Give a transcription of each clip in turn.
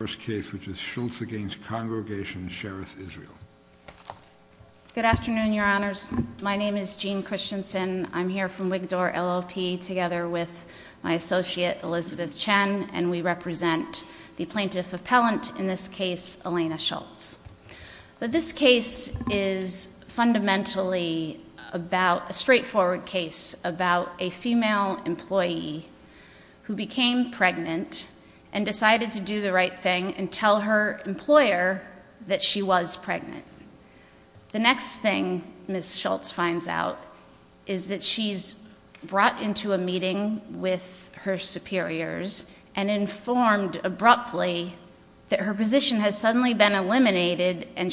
Good afternoon, your honors. My name is Jean Christensen. I'm here from Wigdore LLP together with my associate, Elizabeth Chen, and we represent the plaintiff appellant in this case, Elena Shultz. This case is fundamentally about a straightforward case about a female employee who became pregnant and decided to do the right thing and tell her employer that she was pregnant. The next thing Ms. Shultz finds out is that she's brought into a meeting with her superiors and informed abruptly that her position has suddenly been being terminated was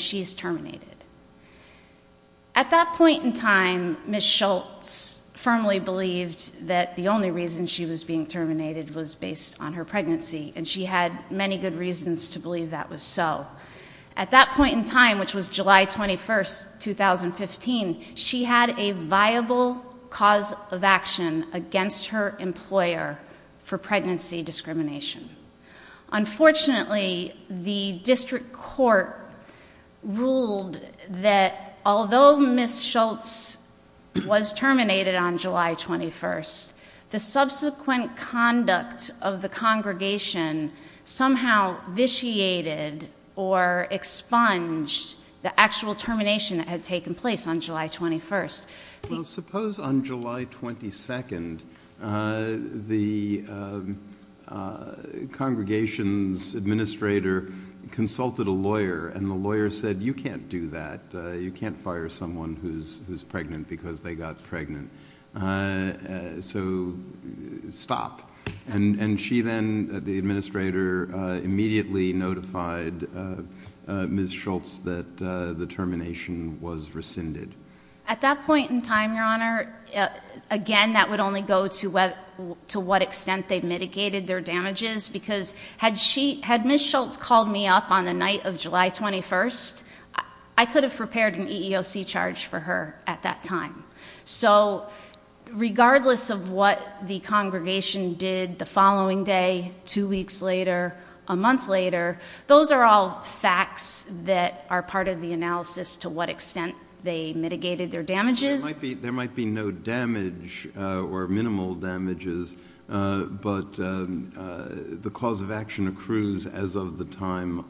based on her pregnancy, and she had many good reasons to believe that was so. At that point in time, which was July 21st, 2015, she had a viable cause of action against her employer for pregnancy discrimination. Unfortunately, the district court ruled that although Ms. Shultz was terminated on July 21st, the subsequent conduct of the congregation somehow vitiated or expunged the actual termination that had taken place on July 21st. Well, suppose on July 22nd, the congregation's administrator consulted a lawyer and the lawyer said, you can't do that. You can't fire someone who's pregnant because they got pregnant. So stop. And she then, the administrator, immediately notified Ms. Shultz that the termination was rescinded. At that point in time, Your Honor, again, that would only go to what extent they mitigated their damages, because had Ms. Shultz called me up on the night of July 21st, I could have prepared an EEOC charge for her at that time. So regardless of what the congregation did the following day, two weeks later, a month later, those are all facts that are part of the analysis to what extent they mitigated their damages. There might be no damage or minimal damages, but the cause of action accrues as of the time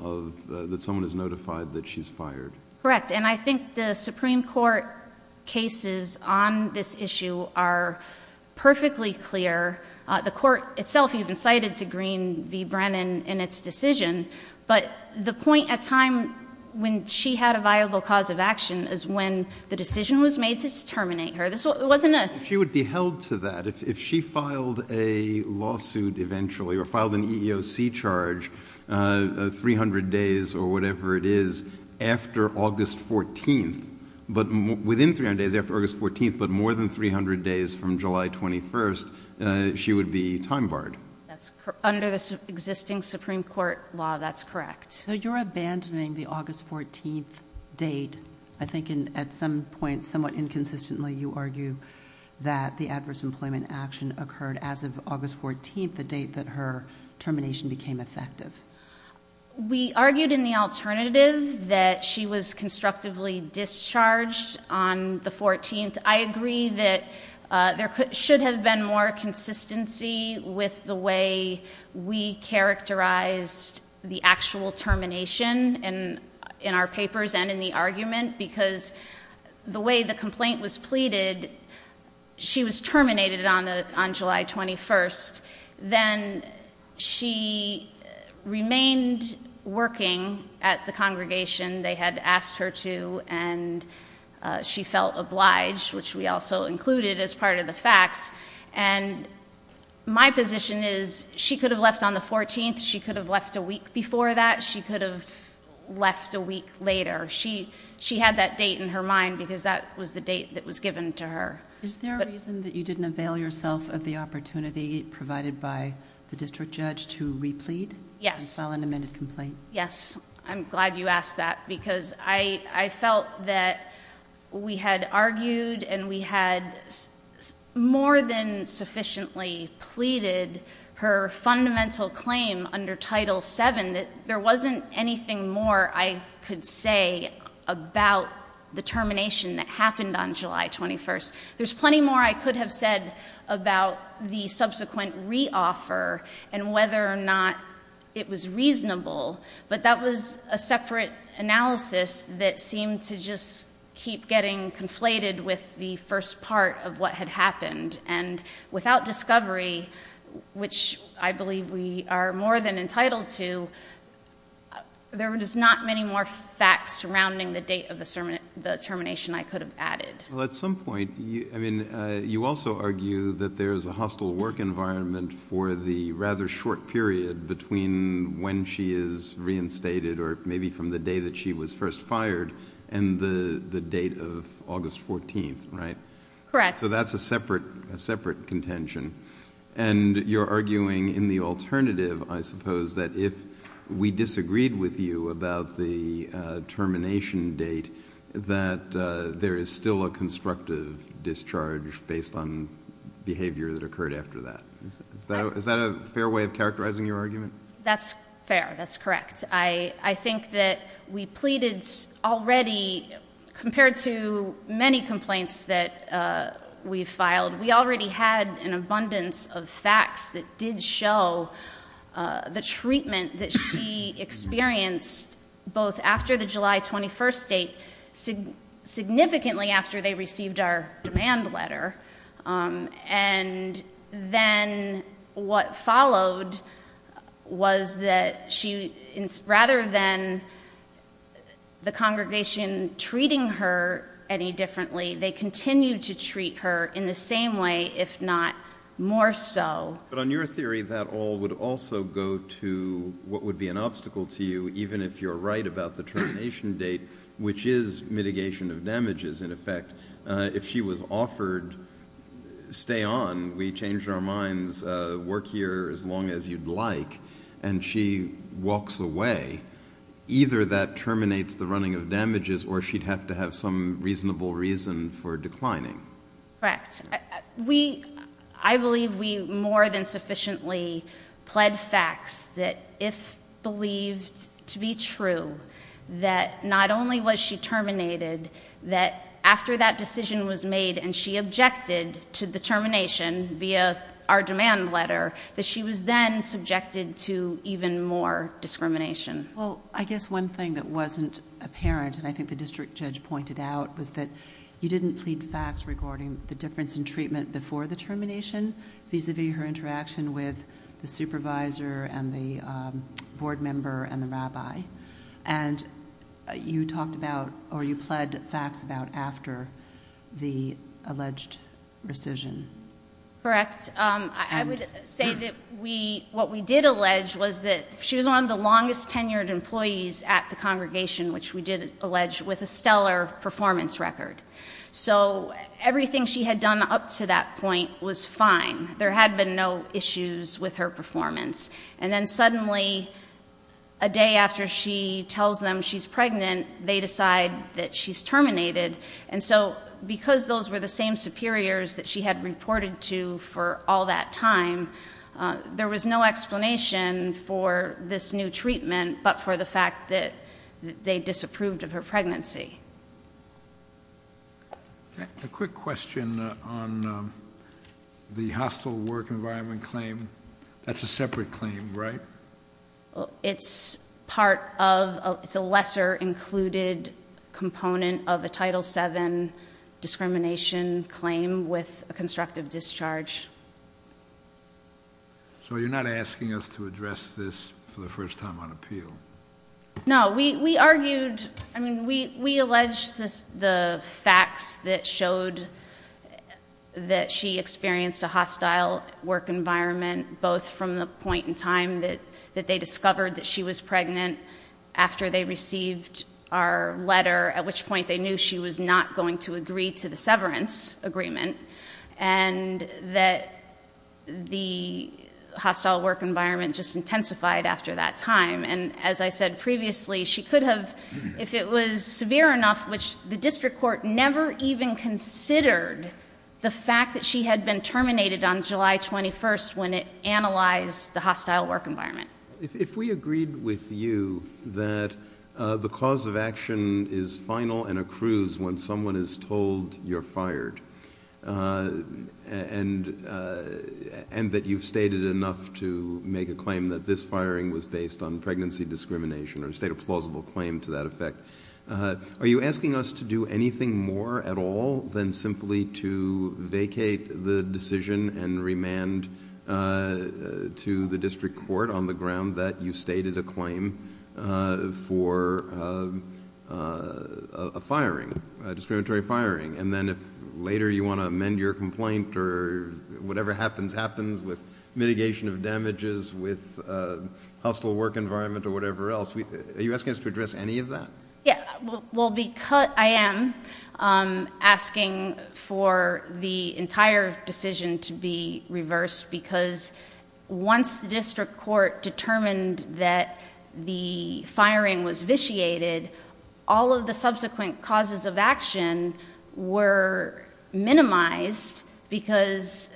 that someone is notified that she's fired. Correct. And I think the Supreme Court cases on this issue are perfectly clear. The court itself even cited to Green v. Brennan in its decision, but the point at time when she had a viable cause of action is when the decision was made to terminate her. If she would be held to that, if she filed a lawsuit eventually or filed an EEOC charge 300 days or whatever it is after August 14th, but within 300 days after August 14th, but more than 300 days from July 21st, she would be time barred. Under the existing Supreme Court law, that's correct. So you're abandoning the August 14th date. I think at some point, somewhat inconsistently, you argue that the adverse employment action occurred as of August 14th, the date that her termination became effective. We argued in the alternative that she was constructively discharged on the 14th. I agree that there should have been more consistency with the way we characterized the actual termination in our papers and in the argument, because the way the complaint was pleaded, she was terminated on July 21st. Then she remained working at the congregation they had asked her to, and she felt obliged, which we also included as part of the facts. My position is she could have left on the 14th. She could have left a week before that. She could have left a week later. She had that date in her mind, because that was the date that was given to her. Is there a reason that you didn't avail yourself of the opportunity provided by the district judge to replead? Yes. And file an amended complaint? Yes. I'm glad you asked that, because I felt that we had argued and we had more than sufficiently pleaded her fundamental claim under Title VII that there wasn't anything more I could say about the termination that happened on July 21st. There's plenty more I could have said about the subsequent reoffer and whether or not it was reasonable, but that was a separate analysis that seemed to just keep getting conflated with the first part of what had happened. And without discovery, which I believe we are more than entitled to, there is not many more facts surrounding the date of the termination I could have added. At some point, you also argue that there is a hostile work environment for the rather short period between when she is reinstated or maybe from the day that she was first fired and the date of August 14th, right? Correct. So that's a separate contention. And you're arguing in the alternative, I suppose, that if we disagreed with you about the termination date, that there is still a constructive discharge based on behavior that occurred after that. Is that a fair way of characterizing your argument? That's fair. That's correct. I think that we pleaded already, compared to many complaints that we filed, we already had an abundance of facts that did show the treatment that she experienced both after the July 21st date, significantly after they received our demand letter, and then what followed was that she, rather than the congregation treating her any differently, they continued to treat her in the same way, if not more so. But on your theory, that all would also go to what would be an obstacle to you, even if you're right about the termination date, which is mitigation of damages, in effect. If she was offered, stay on, we changed our minds, work here as long as you'd like, and she walks away, either that terminates the running of damages or she'd have to have some reasonable reason for declining. Correct. I believe we more than sufficiently pled facts that if believed to be true, that not only was she terminated, that after that decision was made and she objected to the treatment, there would have been more discrimination. I guess one thing that wasn't apparent, and I think the district judge pointed out, was that you didn't plead facts regarding the difference in treatment before the termination vis-a-vis her interaction with the supervisor and the board member and the rabbi. You talked about, or you pled facts about, after the alleged rescission. Correct. I would say that what we did allege was that she was one of the longest tenured employees at the congregation, which we did allege, with a stellar performance record. So everything she had done up to that point was fine. There had been no issues with her performance. And then suddenly, a day after she tells them she's pregnant, they decide that she's terminated. And so, because those were the same superiors that she had reported to for all that time, there was no explanation for this new treatment, but for the fact that they disapproved of her pregnancy. A quick question on the hostile work environment claim. That's a separate claim, right? It's part of, it's a lesser included component of a Title VII discrimination claim with a constructive discharge. So you're not asking us to address this for the first time on appeal? No. We argued, I mean, we alleged the facts that showed that she experienced a hostile work environment, both from the point in time that they discovered that she was pregnant after they received our letter, at which point they knew she was not going to agree to the severance agreement, and that the hostile work environment just intensified after that time. And as I said previously, she could have, if it was severe enough, which the district court never even considered the fact that she had been terminated on July 21st when it analyzed the hostile work environment. If we agreed with you that the cause of action is final and accrues when someone is told you're fired, and that you've stated enough to make a claim that this firing was based on pregnancy discrimination, or state a plausible claim to that effect, are you asking us to do anything more at all than simply to vacate the decision and remand to the district court on the ground that you stated a claim for a firing, a discriminatory firing? And then if later you want to amend your complaint or whatever happens, happens with mitigation of damages, with hostile work environment or whatever else, are you asking us to address any of that? Yeah. Well, I am asking for the entire decision to be reversed because once the district court determined that the firing was vitiated, all of the subsequent causes of action were minimized because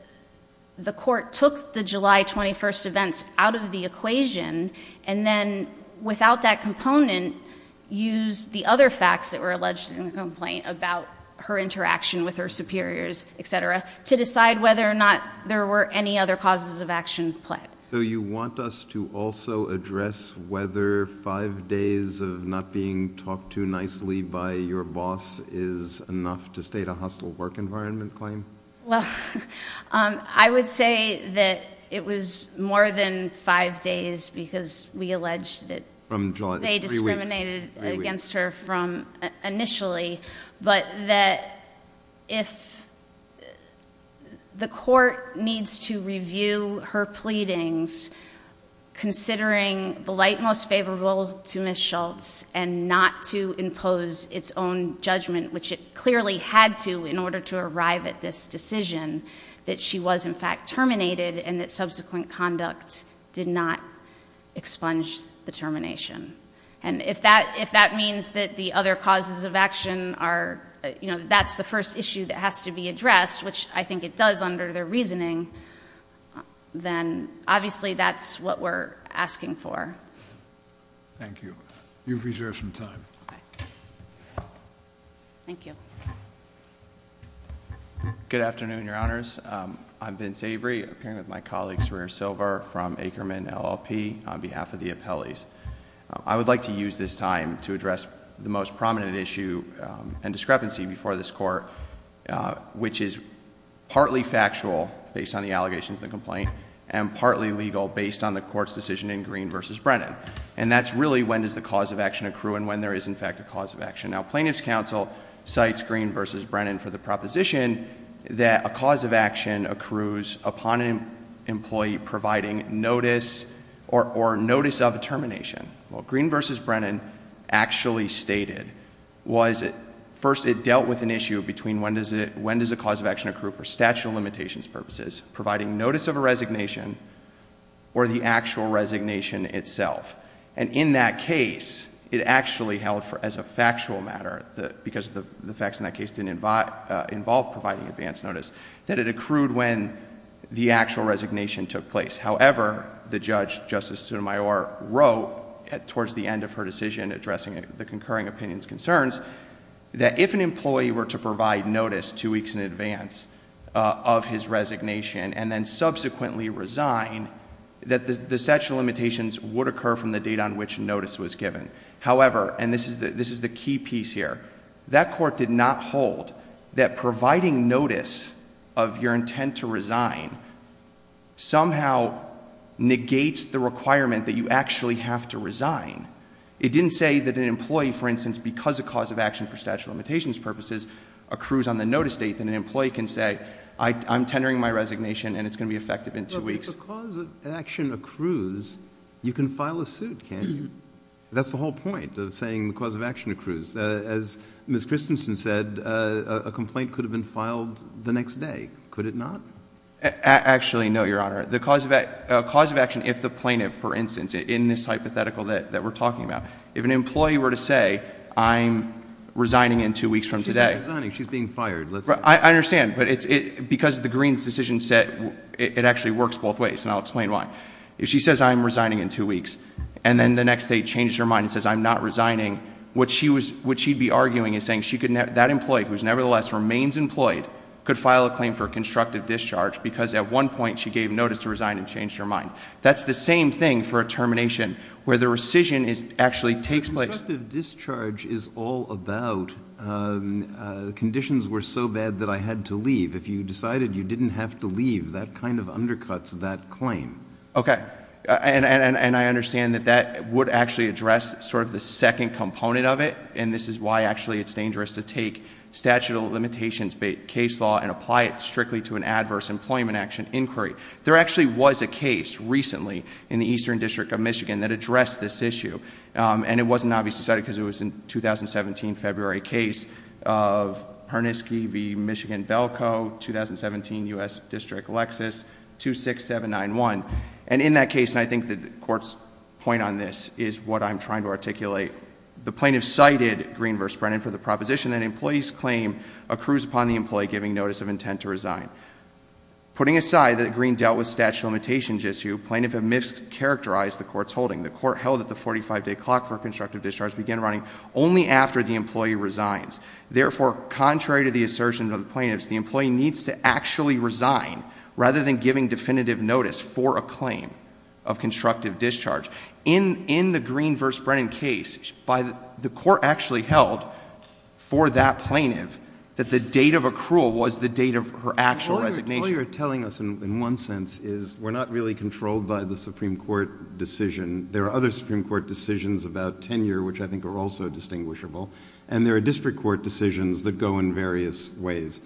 the court took the July 21st events out of the equation, and then without that use the other facts that were alleged in the complaint about her interaction with her superiors, et cetera, to decide whether or not there were any other causes of action pled. So you want us to also address whether five days of not being talked to nicely by your boss is enough to state a hostile work environment claim? Well, I would say that it was more than five days because we alleged that they discriminated against her from initially, but that if the court needs to review her pleadings, considering the light most favorable to Ms. Schultz and not to impose its own judgment, which it clearly had to in order to arrive at this decision, that she was in fact terminated and that subsequent conduct did not expunge the termination. And if that means that the other causes of action are, you know, that's the first issue that has to be addressed, which I think it does under their reasoning, then obviously that's what we're asking for. Thank you. You've reserved some time. Thank you. Good afternoon, Your Honors. I'm Vince Avery. I'm here with my colleague, Sarir Silver from Ackerman LLP on behalf of the appellees. I would like to use this time to address the most prominent issue and discrepancy before this court, which is partly factual based on the allegations in the complaint and partly legal based on the court's decision in Green v. Brennan. And that's really when does the cause of action accrue and when there is in fact a cause of action. Now, Plaintiff's Counsel cites Green v. Brennan for the proposition that a cause of action accrues upon an employee providing notice or notice of termination. Well, Green v. Brennan actually stated, was it, first it dealt with an issue between when does a cause of action accrue for statute of limitations purposes, providing notice of a resignation or the actual resignation itself. And in that case, it actually held for, as a factual matter, because the facts in that case didn't involve providing advance notice, that it accrued when the actual resignation took place. However, the judge, Justice Sotomayor, wrote towards the end of her decision addressing the concurring opinion's concerns, that if an employee were to provide notice two weeks in advance of his resignation and then subsequently resign, that the statute of limitations would occur from the date on which notice was given. However, and this is the key piece here, that court did not hold that providing notice of your intent to resign somehow negates the requirement that you actually have to resign. It didn't say that an employee, for instance, because a cause of action for statute of limitations purposes accrues on the notice date, that an employee can say, I'm tendering my resignation and it's going to be effective in two weeks. But if a cause of action accrues, you can file a suit, can't you? That's the whole point of saying the cause of action accrues. As Ms. Christensen said, a complaint could have been filed the next day. Could it not? Actually, no, Your Honor. The cause of action, if the plaintiff, for instance, in this hypothetical that we're talking about, if an employee were to say, I'm resigning in two weeks from today. She's been resigning. She's being fired. I understand. But it's because of the Green's decision set, it actually works both ways, and I'll explain why. If she says, I'm resigning in two weeks, and then the next day changes her mind and says, I'm not resigning, what she'd be arguing is saying that employee who nevertheless remains employed could file a claim for constructive discharge because at one point she gave notice to resign and changed her mind. That's the same thing for a termination, where the rescission actually takes place. But constructive discharge is all about conditions were so bad that I had to leave. If you decided you didn't have to leave, that kind of undercuts that claim. Okay. And I understand that that would actually address sort of the second component of it, and this is why actually it's dangerous to take statute of limitations case law and apply it strictly to an adverse employment action inquiry. There actually was a case recently in the Eastern District of Michigan that addressed this issue, and it wasn't obviously decided because it was a 2017 February case of Harnisky v. Michigan-Belco, 2017 U.S. District Lexus 26791. And in that case, and I think the court's point on this is what I'm trying to articulate, the plaintiff cited Green v. Brennan for the proposition that an employee's claim accrues upon the employee giving notice of intent to resign. Putting aside that Green dealt with statute of limitations issue, plaintiff had mischaracterized the court's holding. The court held that the 45-day clock for constructive discharge began running only after the employee resigns. Therefore, contrary to the assertion of the plaintiffs, the employee needs to actually resign rather than giving definitive notice for a claim of constructive discharge. In the Green v. Brennan case, the court actually held for that plaintiff that the date of accrual was the date of her actual resignation. What you're telling us in one sense is we're not really controlled by the Supreme Court decision. There are other Supreme Court decisions about tenure which I think are also distinguishable, and there are district court decisions that go in various ways.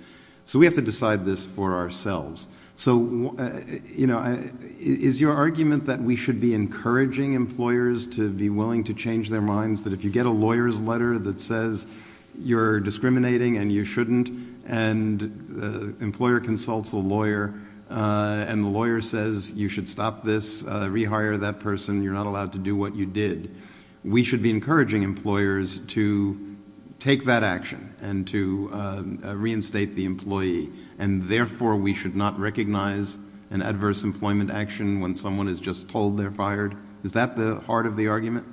So we have to decide this for ourselves. So is your argument that we should be encouraging employers to be willing to change their minds, that if you get a lawyer's letter that says you're discriminating and you shouldn't, and employer consults a lawyer, and the lawyer says you should stop this, rehire that person, you're not allowed to do what you did. We should be encouraging employers to take that action and to reinstate the employee, and therefore we should not recognize an adverse employment action when someone is just told they're fired? Is that the heart of the argument?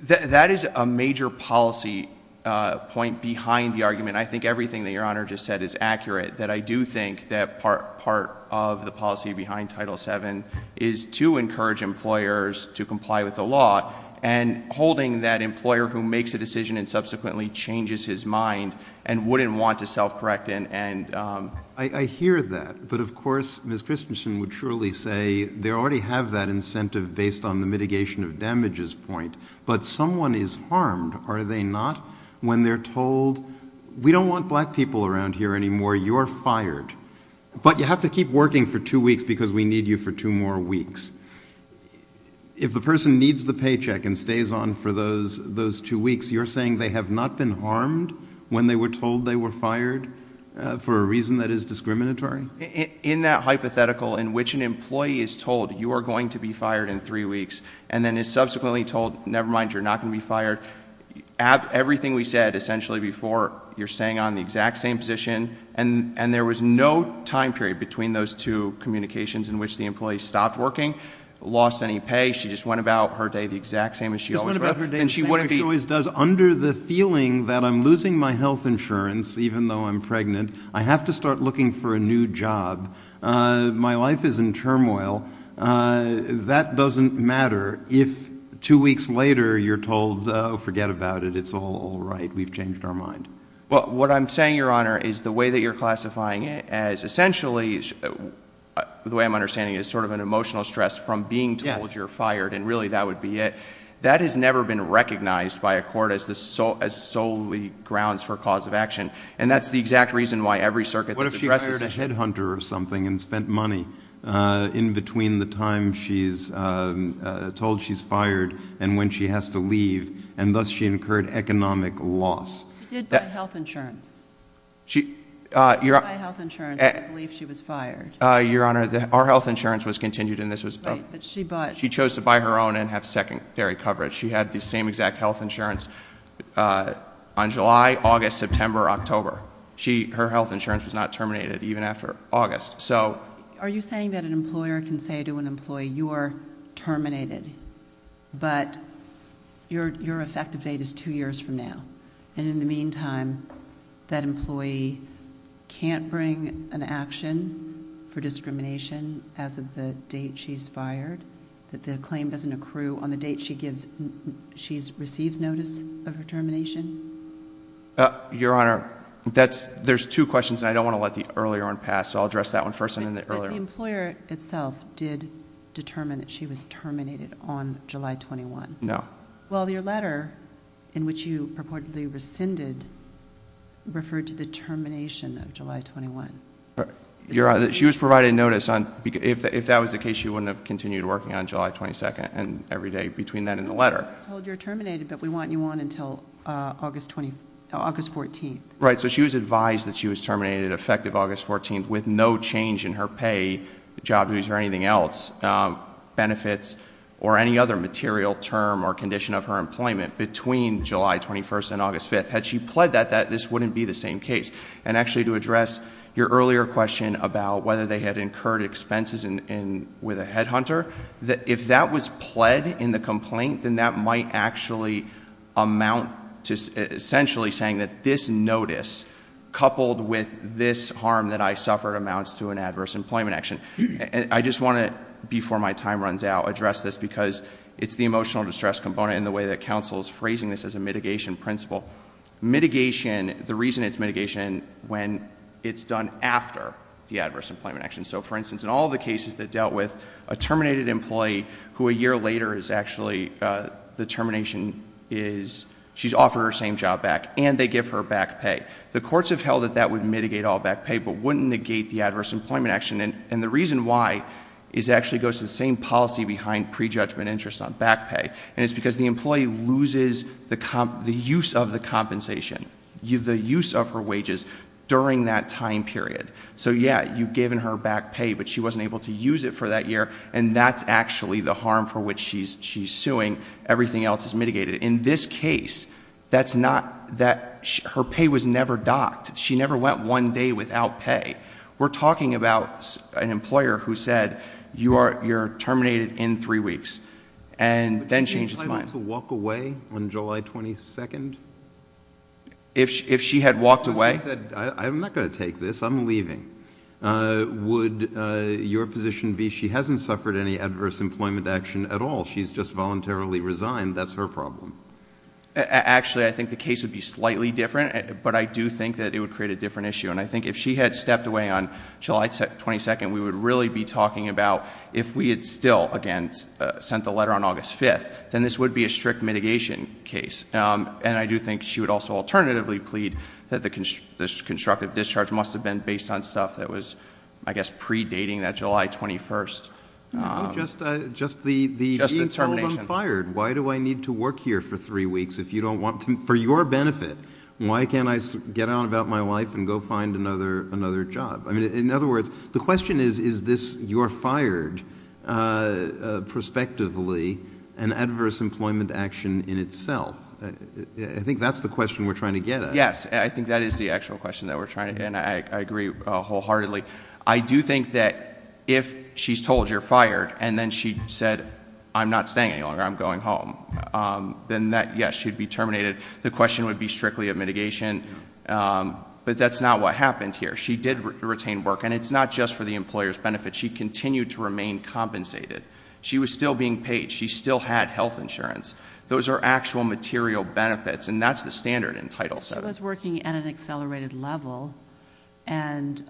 That is a major policy point behind the argument. I think everything that Your Honor just said is accurate, that I do think that part of the policy behind Title VII is to encourage employers to comply with the law, and holding that employer who makes a decision and subsequently changes his mind and wouldn't want to self-correct and... I hear that, but of course Ms. Christensen would surely say they already have that incentive based on the mitigation of damages point, but someone is harmed, are they not? When they're told, we don't want black people around here anymore, you're fired. But you have to keep working for two weeks because we need you for two more weeks. If the person needs the paycheck and stays on for those two weeks, you're saying they have not been harmed when they were told they were fired for a reason that is discriminatory? In that hypothetical in which an employee is told you are going to be fired in three weeks and then is subsequently told, never mind, you're not going to be fired, everything we said essentially before, you're staying on the exact same position, and there was no time period between those two communications in which the employee stopped working, lost any pay, she just went about her day the exact same as she always would, and she wouldn't be... Just went about her day the same as she always does. Under the feeling that I'm losing my health insurance even though I'm pregnant, I have to start looking for a new job, my life is in turmoil, that doesn't matter if two weeks later you're told, forget about it, it's all right, we've changed our mind. What I'm saying, Your Honor, is the way that you're classifying it as essentially, the way I'm understanding it, is sort of an emotional stress from being told you're fired and really that would be it. That has never been recognized by a court as solely grounds for cause of action. And that's the exact reason why every circuit that addresses it... What if she hired a headhunter or something and spent money in between the time she's told she's fired and when she has to leave, and thus she incurred economic loss? She did buy health insurance. She... She did buy health insurance and I believe she was fired. Your Honor, our health insurance was continued and this was... Right, but she bought... She chose to buy her own and have secondary coverage. She had the same exact health insurance on July, August, September, October. Her health insurance was not terminated even after August, so... Are you saying that an employer can say to an employee, you are terminated, but your effective date is two years from now, and in the meantime, that employee can't bring an action for discrimination as of the date she's fired, that the claim doesn't accrue on the date she receives notice of her termination? Your Honor, that's... There's two questions and I don't want to let the earlier one pass, so I'll address that one first and then the earlier one. But the employer itself did determine that she was terminated on July 21? No. Well, your letter, in which you purportedly rescinded, referred to the termination of July 21. Your Honor, she was provided notice on... If that was the case, she wouldn't have continued working on July 22nd and every day between that and the letter. I was told you're terminated, but we want you on until August 14th. Right. So she was advised that she was terminated effective August 14th with no change in her pay, job dues, or anything else, benefits, or any other material term or condition of her employment between July 21st and August 5th. Had she pled that, this wouldn't be the same case. And actually, to address your earlier question about whether they had incurred expenses with a headhunter, if that was pled in the complaint, then that might actually amount to essentially saying that this notice coupled with this harm that I suffered amounts to an adverse employment action. And I just want to, before my time runs out, address this because it's the emotional distress component in the way that counsel is phrasing this as a mitigation principle. Mitigation, the reason it's mitigation when it's done after the adverse employment action. So for instance, in all the cases that dealt with a terminated employee who a year later is actually, the termination is, she's offered her same job back and they give her back pay. The courts have held that that would mitigate all back pay but wouldn't negate the adverse employment action. And the reason why is it actually goes to the same policy behind prejudgment interest on back pay. And it's because the employee loses the use of the compensation, the use of her wages during that time period. So yeah, you've given her back pay but she wasn't able to use it for that year and that's actually the harm for which she's suing. Everything else is mitigated. In this case, that's not, that, her pay was never docked. She never went one day without pay. We're talking about an employer who said, you are, you're terminated in three weeks. And then changed his mind. Would you be inclined to walk away on July 22nd? If she had walked away? I'm not going to take this, I'm leaving. Would your position be she hasn't suffered any adverse employment action at all? She's just voluntarily resigned. That's her problem. Actually, I think the case would be slightly different but I do think that it would create a different issue. And I think if she had stepped away on July 22nd, we would really be talking about if we had still, again, sent the letter on August 5th, then this would be a strict mitigation case. And I do think she would also alternatively plead that the constructive discharge must have been based on stuff that was, I guess, pre-dating that July 21st. Just the termination. Just the being told I'm fired. Why do I need to work here for three weeks if you don't want to, for your benefit, why can't I get on about my life and go find another job? I mean, in other words, the question is, is this, you're fired, prospectively, an adverse employment action in itself? I think that's the question we're trying to get at. Yes. I think that is the actual question that we're trying to get at and I agree wholeheartedly. I do think that if she's told you're fired and then she said, I'm not staying any longer, I'm going home, then that, yes, she'd be terminated. The question would be strictly a mitigation. But that's not what happened here. She did retain work and it's not just for the employer's benefit. She continued to remain compensated. She was still being paid. She still had health insurance. Those are actual material benefits and that's the standard in Title VII. So she was working at an accelerated level and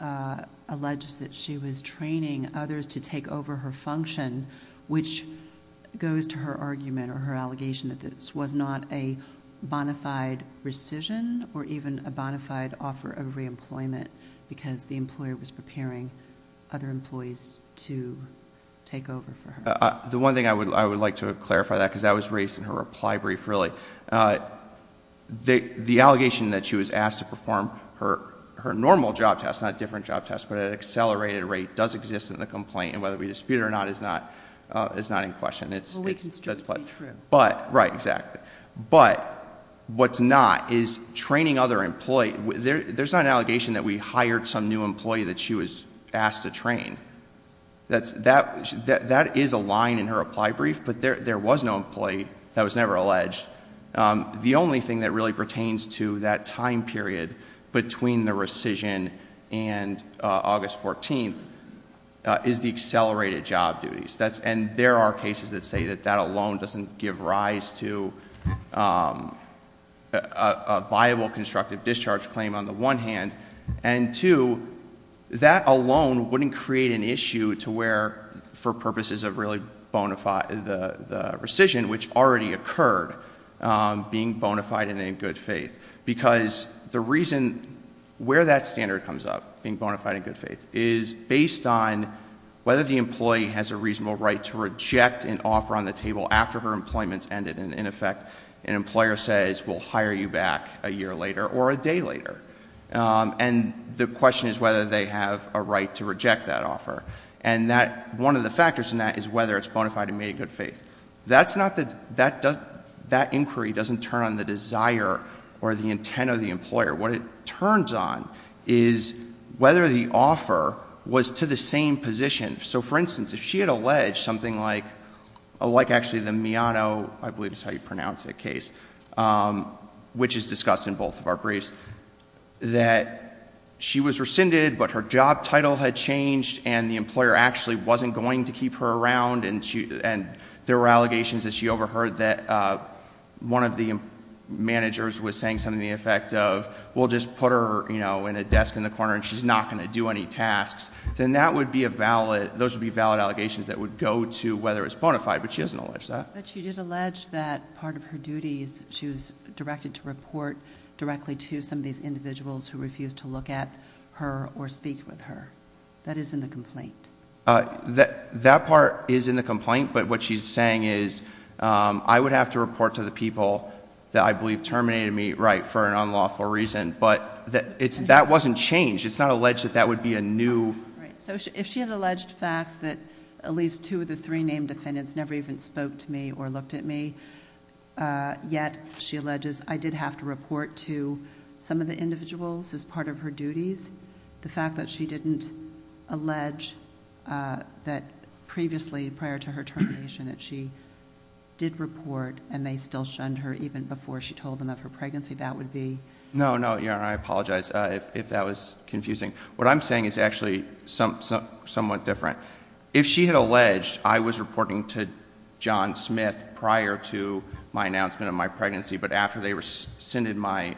alleged that she was training others to take over her function, which goes to her argument or her allegation that this was not a bonafide rescission or even a bonafide offer of reemployment because the employer was preparing other employees to take over for her. The one thing I would like to clarify that, because that was raised in her reply brief really, the allegation that she was asked to perform her normal job test, not a different job test, but at an accelerated rate does exist in the complaint and whether we dispute it or not is not in question. It's strictly true. But, right, exactly. But what's not is training other employees. There's not an allegation that we hired some new employee that she was asked to train. That is a line in her reply brief, but there was no employee that was never alleged. The only thing that really pertains to that time period between the rescission and August 14th is the accelerated job duties. And there are cases that say that that alone doesn't give rise to a viable constructive discharge claim on the one hand. And two, that alone wouldn't create an issue to where, for purposes of really the rescission, which already occurred, being bonafide and in good faith. Because the reason where that standard comes up, being bonafide and in good faith, is based on whether the employee has a reasonable right to reject an offer on the table after her employment's ended. And in effect, an employer says, we'll hire you back a year later or a day later. And the question is whether they have a right to reject that offer. And one of the factors in that is whether it's bonafide and made in good faith. That inquiry doesn't turn on the desire or the intent of the employer. What it turns on is whether the offer was to the same position. So for instance, if she had alleged something like actually the Miano, I believe is how you pronounce that case, which is discussed in both of our briefs, that she was rescinded but her job title had changed and the employer actually wasn't going to keep her around. And there were allegations that she overheard that one of the managers was saying something to the effect of, we'll just put her in a desk in the corner and she's not going to do any tasks. Then that would be a valid, those would be valid allegations that would go to whether it's bonafide, but she doesn't allege that. But she did allege that part of her duties, she was directed to report directly to some of these individuals who refused to look at her or speak with her. That is in the complaint. That part is in the complaint, but what she's saying is I would have to report to the people that I believe terminated me, right, for an unlawful reason, but that wasn't changed. It's not alleged that that would be a new- Right, so if she had alleged facts that at least two of the three named defendants never even spoke to me or looked at me. Yet she alleges I did have to report to some of the individuals as part of her duties. The fact that she didn't allege that previously prior to her termination that she did report and they still shunned her even before she told them of her pregnancy, that would be- No, no, I apologize if that was confusing. What I'm saying is actually somewhat different. If she had alleged I was reporting to John Smith prior to my announcement of my pregnancy, but after they rescinded my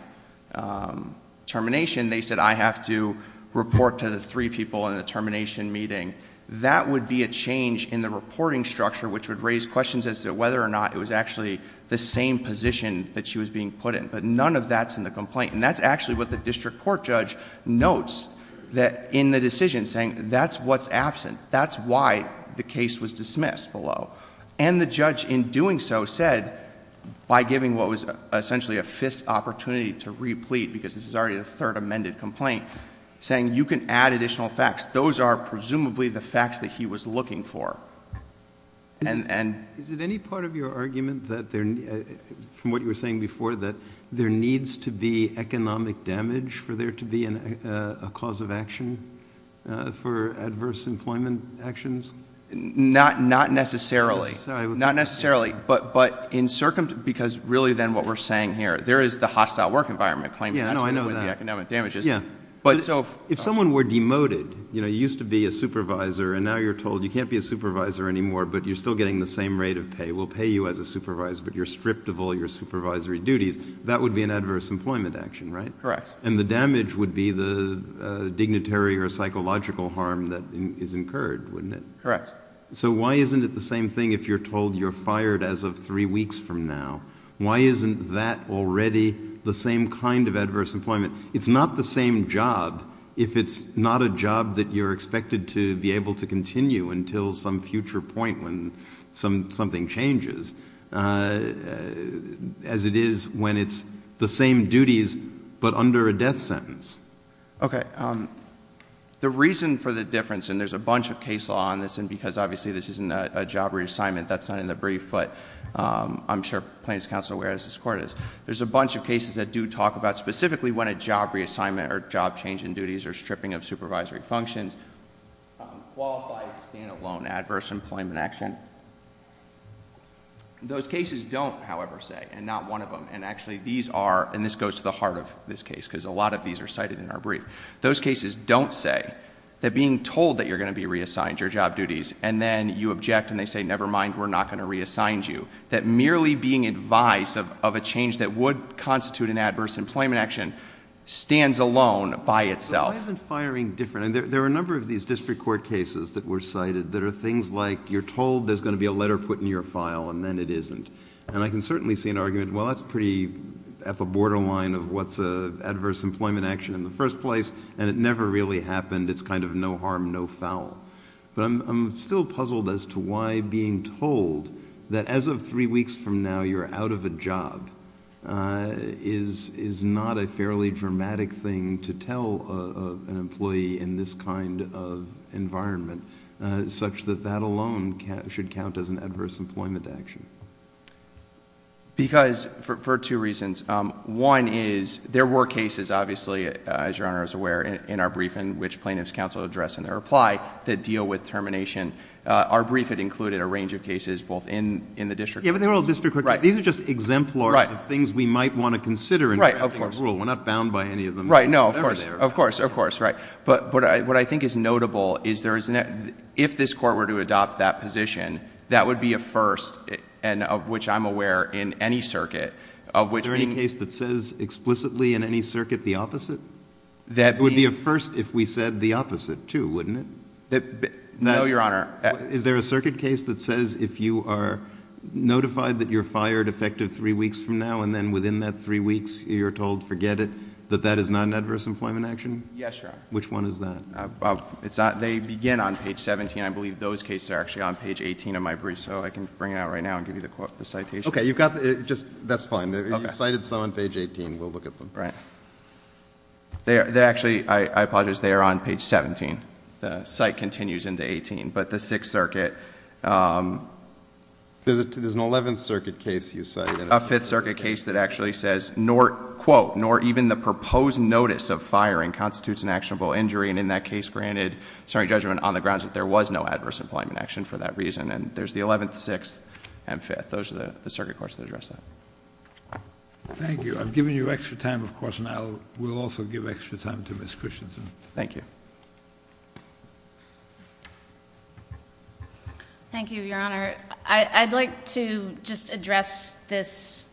termination, they said I have to report to the three people in the termination meeting. That would be a change in the reporting structure which would raise questions as to whether or not it was actually the same position that she was being put in, but none of that's in the complaint. And that's actually what the district court judge notes that in the decision saying that's what's absent. That's why the case was dismissed below. And the judge in doing so said by giving what was essentially a fifth opportunity to replete, because this is already the third amended complaint, saying you can add additional facts. Those are presumably the facts that he was looking for. And- Is it any part of your argument that there, from what you were saying before, that there needs to be economic damage for there to be a cause of action for adverse employment actions? Not necessarily. Not necessarily, but in circumstance, because really then what we're saying here, there is the hostile work environment claim- Yeah, no, I know that. That's where the economic damage is. Yeah. But if someone were demoted, you used to be a supervisor, and now you're told you can't be a supervisor anymore, but you're still getting the same rate of pay. We'll pay you as a supervisor, but you're stripped of all your supervisory duties, that would be an adverse employment action, right? Correct. And the damage would be the dignitary or psychological harm that is incurred, wouldn't it? Correct. So why isn't it the same thing if you're told you're fired as of three weeks from now? Why isn't that already the same kind of adverse employment? It's not the same job if it's not a job that you're expected to be able to continue until some future point when something changes, as it is when it's the same duties but under a death sentence. Okay, the reason for the difference, and there's a bunch of case law on this, and because obviously this isn't a job reassignment, that's not in the brief, but I'm sure plaintiff's counsel are aware as this court is. There's a bunch of cases that do talk about specifically when a job reassignment or job change in duties or stripping of supervisory functions. Qualify as stand alone adverse employment action. Those cases don't, however, say, and not one of them, and actually these are, and this goes to the heart of this case, because a lot of these are cited in our brief. Those cases don't say that being told that you're going to be reassigned your job duties, and then you object, and they say, never mind, we're not going to reassign you. That merely being advised of a change that would constitute an adverse employment action stands alone by itself. Why isn't firing different? There are a number of these district court cases that were cited that are things like, you're told there's going to be a letter put in your file, and then it isn't. And I can certainly see an argument, well, that's pretty at the borderline of what's an adverse employment action in the first place, and it never really happened. It's kind of no harm, no foul. But I'm still puzzled as to why being told that as of three weeks from now, you're out of a job, is not a fairly dramatic thing to tell an employee in this kind of environment. Such that that alone should count as an adverse employment action. Because, for two reasons, one is, there were cases, obviously, as Your Honor is aware in our briefing which plaintiff's counsel addressed in their reply that deal with termination. Our briefing included a range of cases both in the district court. These are just exemplars of things we might want to consider in drafting a rule. We're not bound by any of them. Right, no, of course, of course, of course, right. But what I think is notable is there is, if this court were to adopt that position, that would be a first, and of which I'm aware in any circuit. Of which being- Is there any case that says explicitly in any circuit the opposite? That would be a first if we said the opposite, too, wouldn't it? No, Your Honor. Is there a circuit case that says if you are notified that you're fired effective three weeks from now, and then within that three weeks you're told forget it, that that is not an adverse employment action? Yes, Your Honor. Which one is that? It's not, they begin on page 17. I believe those cases are actually on page 18 of my brief, so I can bring it out right now and give you the citation. Okay, you've got the, just, that's fine. You've cited some on page 18, we'll look at them. Right. They're actually, I apologize, they are on page 17. The site continues into 18, but the Sixth Circuit. There's an 11th Circuit case you cited. A Fifth Circuit case that actually says, nor, quote, nor even the proposed notice of firing constitutes an actionable injury. And in that case granted, sorry, judgment on the grounds that there was no adverse employment action for that reason. And there's the 11th, 6th, and 5th. Those are the circuit courts that address that. Thank you. I've given you extra time, of course, and I will also give extra time to Ms. Christensen. Thank you. Thank you, Your Honor. I'd like to just address this,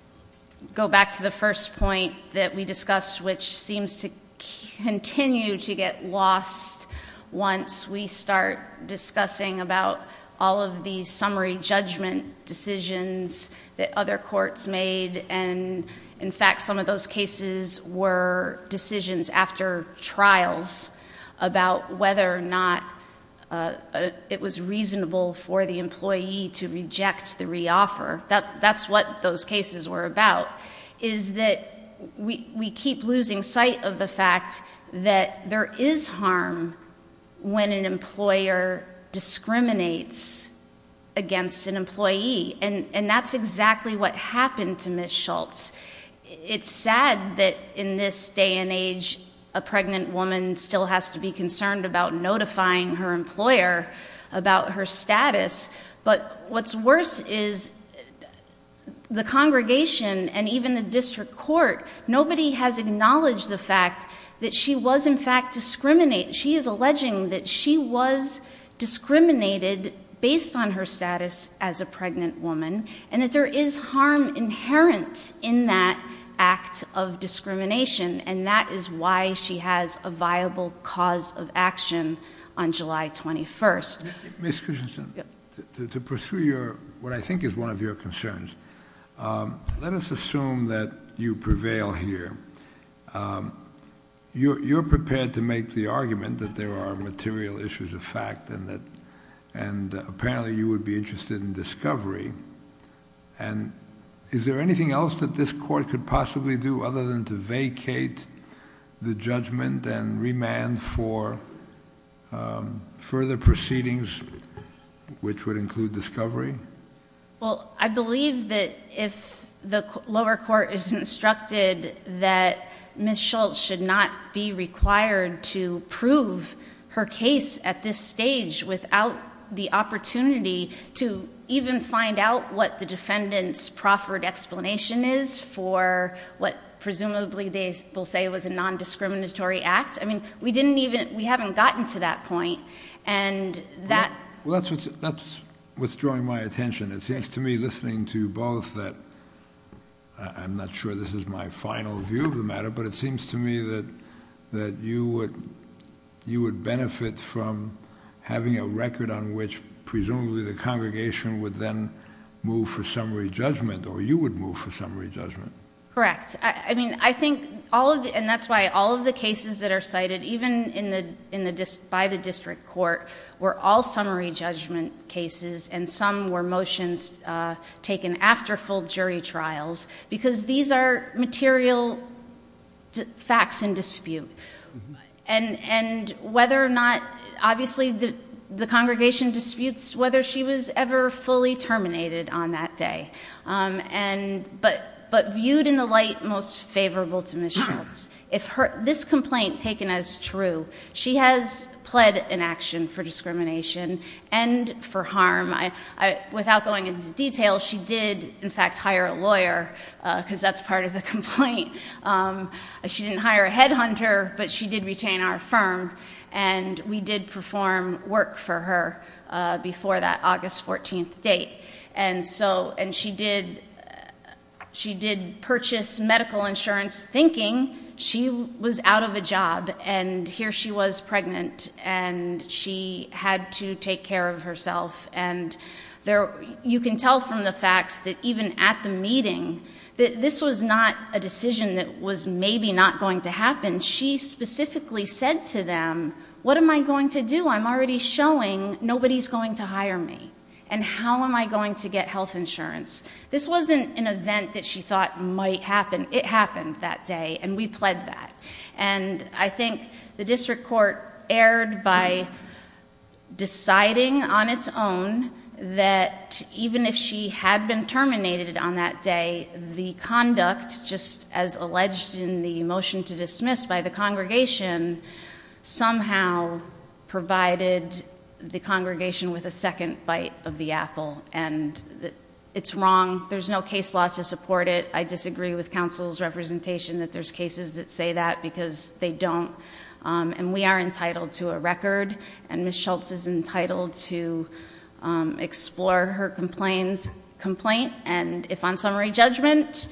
go back to the first point that we discussed, which seems to continue to get lost once we start discussing about all of these summary judgment decisions that other courts made. And in fact, some of those cases were decisions after trials about whether or not it was reasonable for the employee to reject the re-offer. That's what those cases were about, is that we keep losing sight of the fact that there is harm when an employer discriminates against an employee, and that's exactly what happened to Ms. Schultz. It's sad that in this day and age, a pregnant woman still has to be concerned about notifying her employer about her status. But what's worse is the congregation and even the district court, nobody has acknowledged the fact that she was in fact discriminating. She is alleging that she was discriminated based on her status as a pregnant woman, and that there is harm inherent in that act of discrimination, and that is why she has a viable cause of action on July 21st. Ms. Cushington, to pursue what I think is one of your concerns, let us assume that you prevail here. You're prepared to make the argument that there are material issues of fact and apparently you would be interested in discovery. And is there anything else that this court could possibly do other than to vacate the judgment and remand for further proceedings, which would include discovery? Well, I believe that if the lower court is instructed that Ms. Schultz should not be required to prove her case at this stage without the opportunity to even find out what the defendant's proffered explanation is for what presumably they will say was a non-discriminatory act. I mean, we haven't gotten to that point, and that- Well, that's what's drawing my attention. It seems to me listening to both that, I'm not sure this is my final view of the matter, but it seems to me that you would benefit from having a record on which, presumably, the congregation would then move for summary judgment, or you would move for summary judgment. Correct. I mean, I think, and that's why all of the cases that are cited, even by the district court, were all summary judgment cases, and some were motions taken after full jury trials. Because these are material facts in dispute. And whether or not, obviously the congregation disputes whether she was ever fully terminated on that day. But viewed in the light most favorable to Ms. Schultz, if this complaint taken as true, she has pled an action for discrimination and for harm. Without going into detail, she did, in fact, hire a lawyer, because that's part of the complaint. She didn't hire a headhunter, but she did retain our firm, and we did perform work for her before that August 14th date. And so, and she did purchase medical insurance thinking she was out of a job, and here she was pregnant, and she had to take care of herself. And you can tell from the facts that even at the meeting, that this was not a decision that was maybe not going to happen. She specifically said to them, what am I going to do? I'm already showing nobody's going to hire me. And how am I going to get health insurance? This wasn't an event that she thought might happen. It happened that day, and we pled that. And I think the district court erred by deciding on its own, that even if she had been terminated on that day, the conduct, just as alleged in the motion to dismiss by the congregation, somehow provided the congregation with a second bite of the apple. And it's wrong, there's no case law to support it. I disagree with counsel's representation that there's cases that say that because they don't. And we are entitled to a record, and Ms. Schultz is entitled to explore her complaint. And if on summary judgment,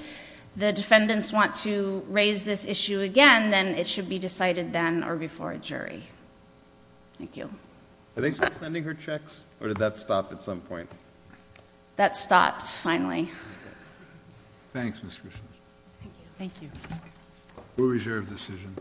the defendants want to raise this issue again, then it should be decided then or before a jury. Thank you. Are they still sending her checks, or did that stop at some point? That stopped, finally. Thanks, Ms. Grisham. Thank you. Thank you. We'll reserve the decision.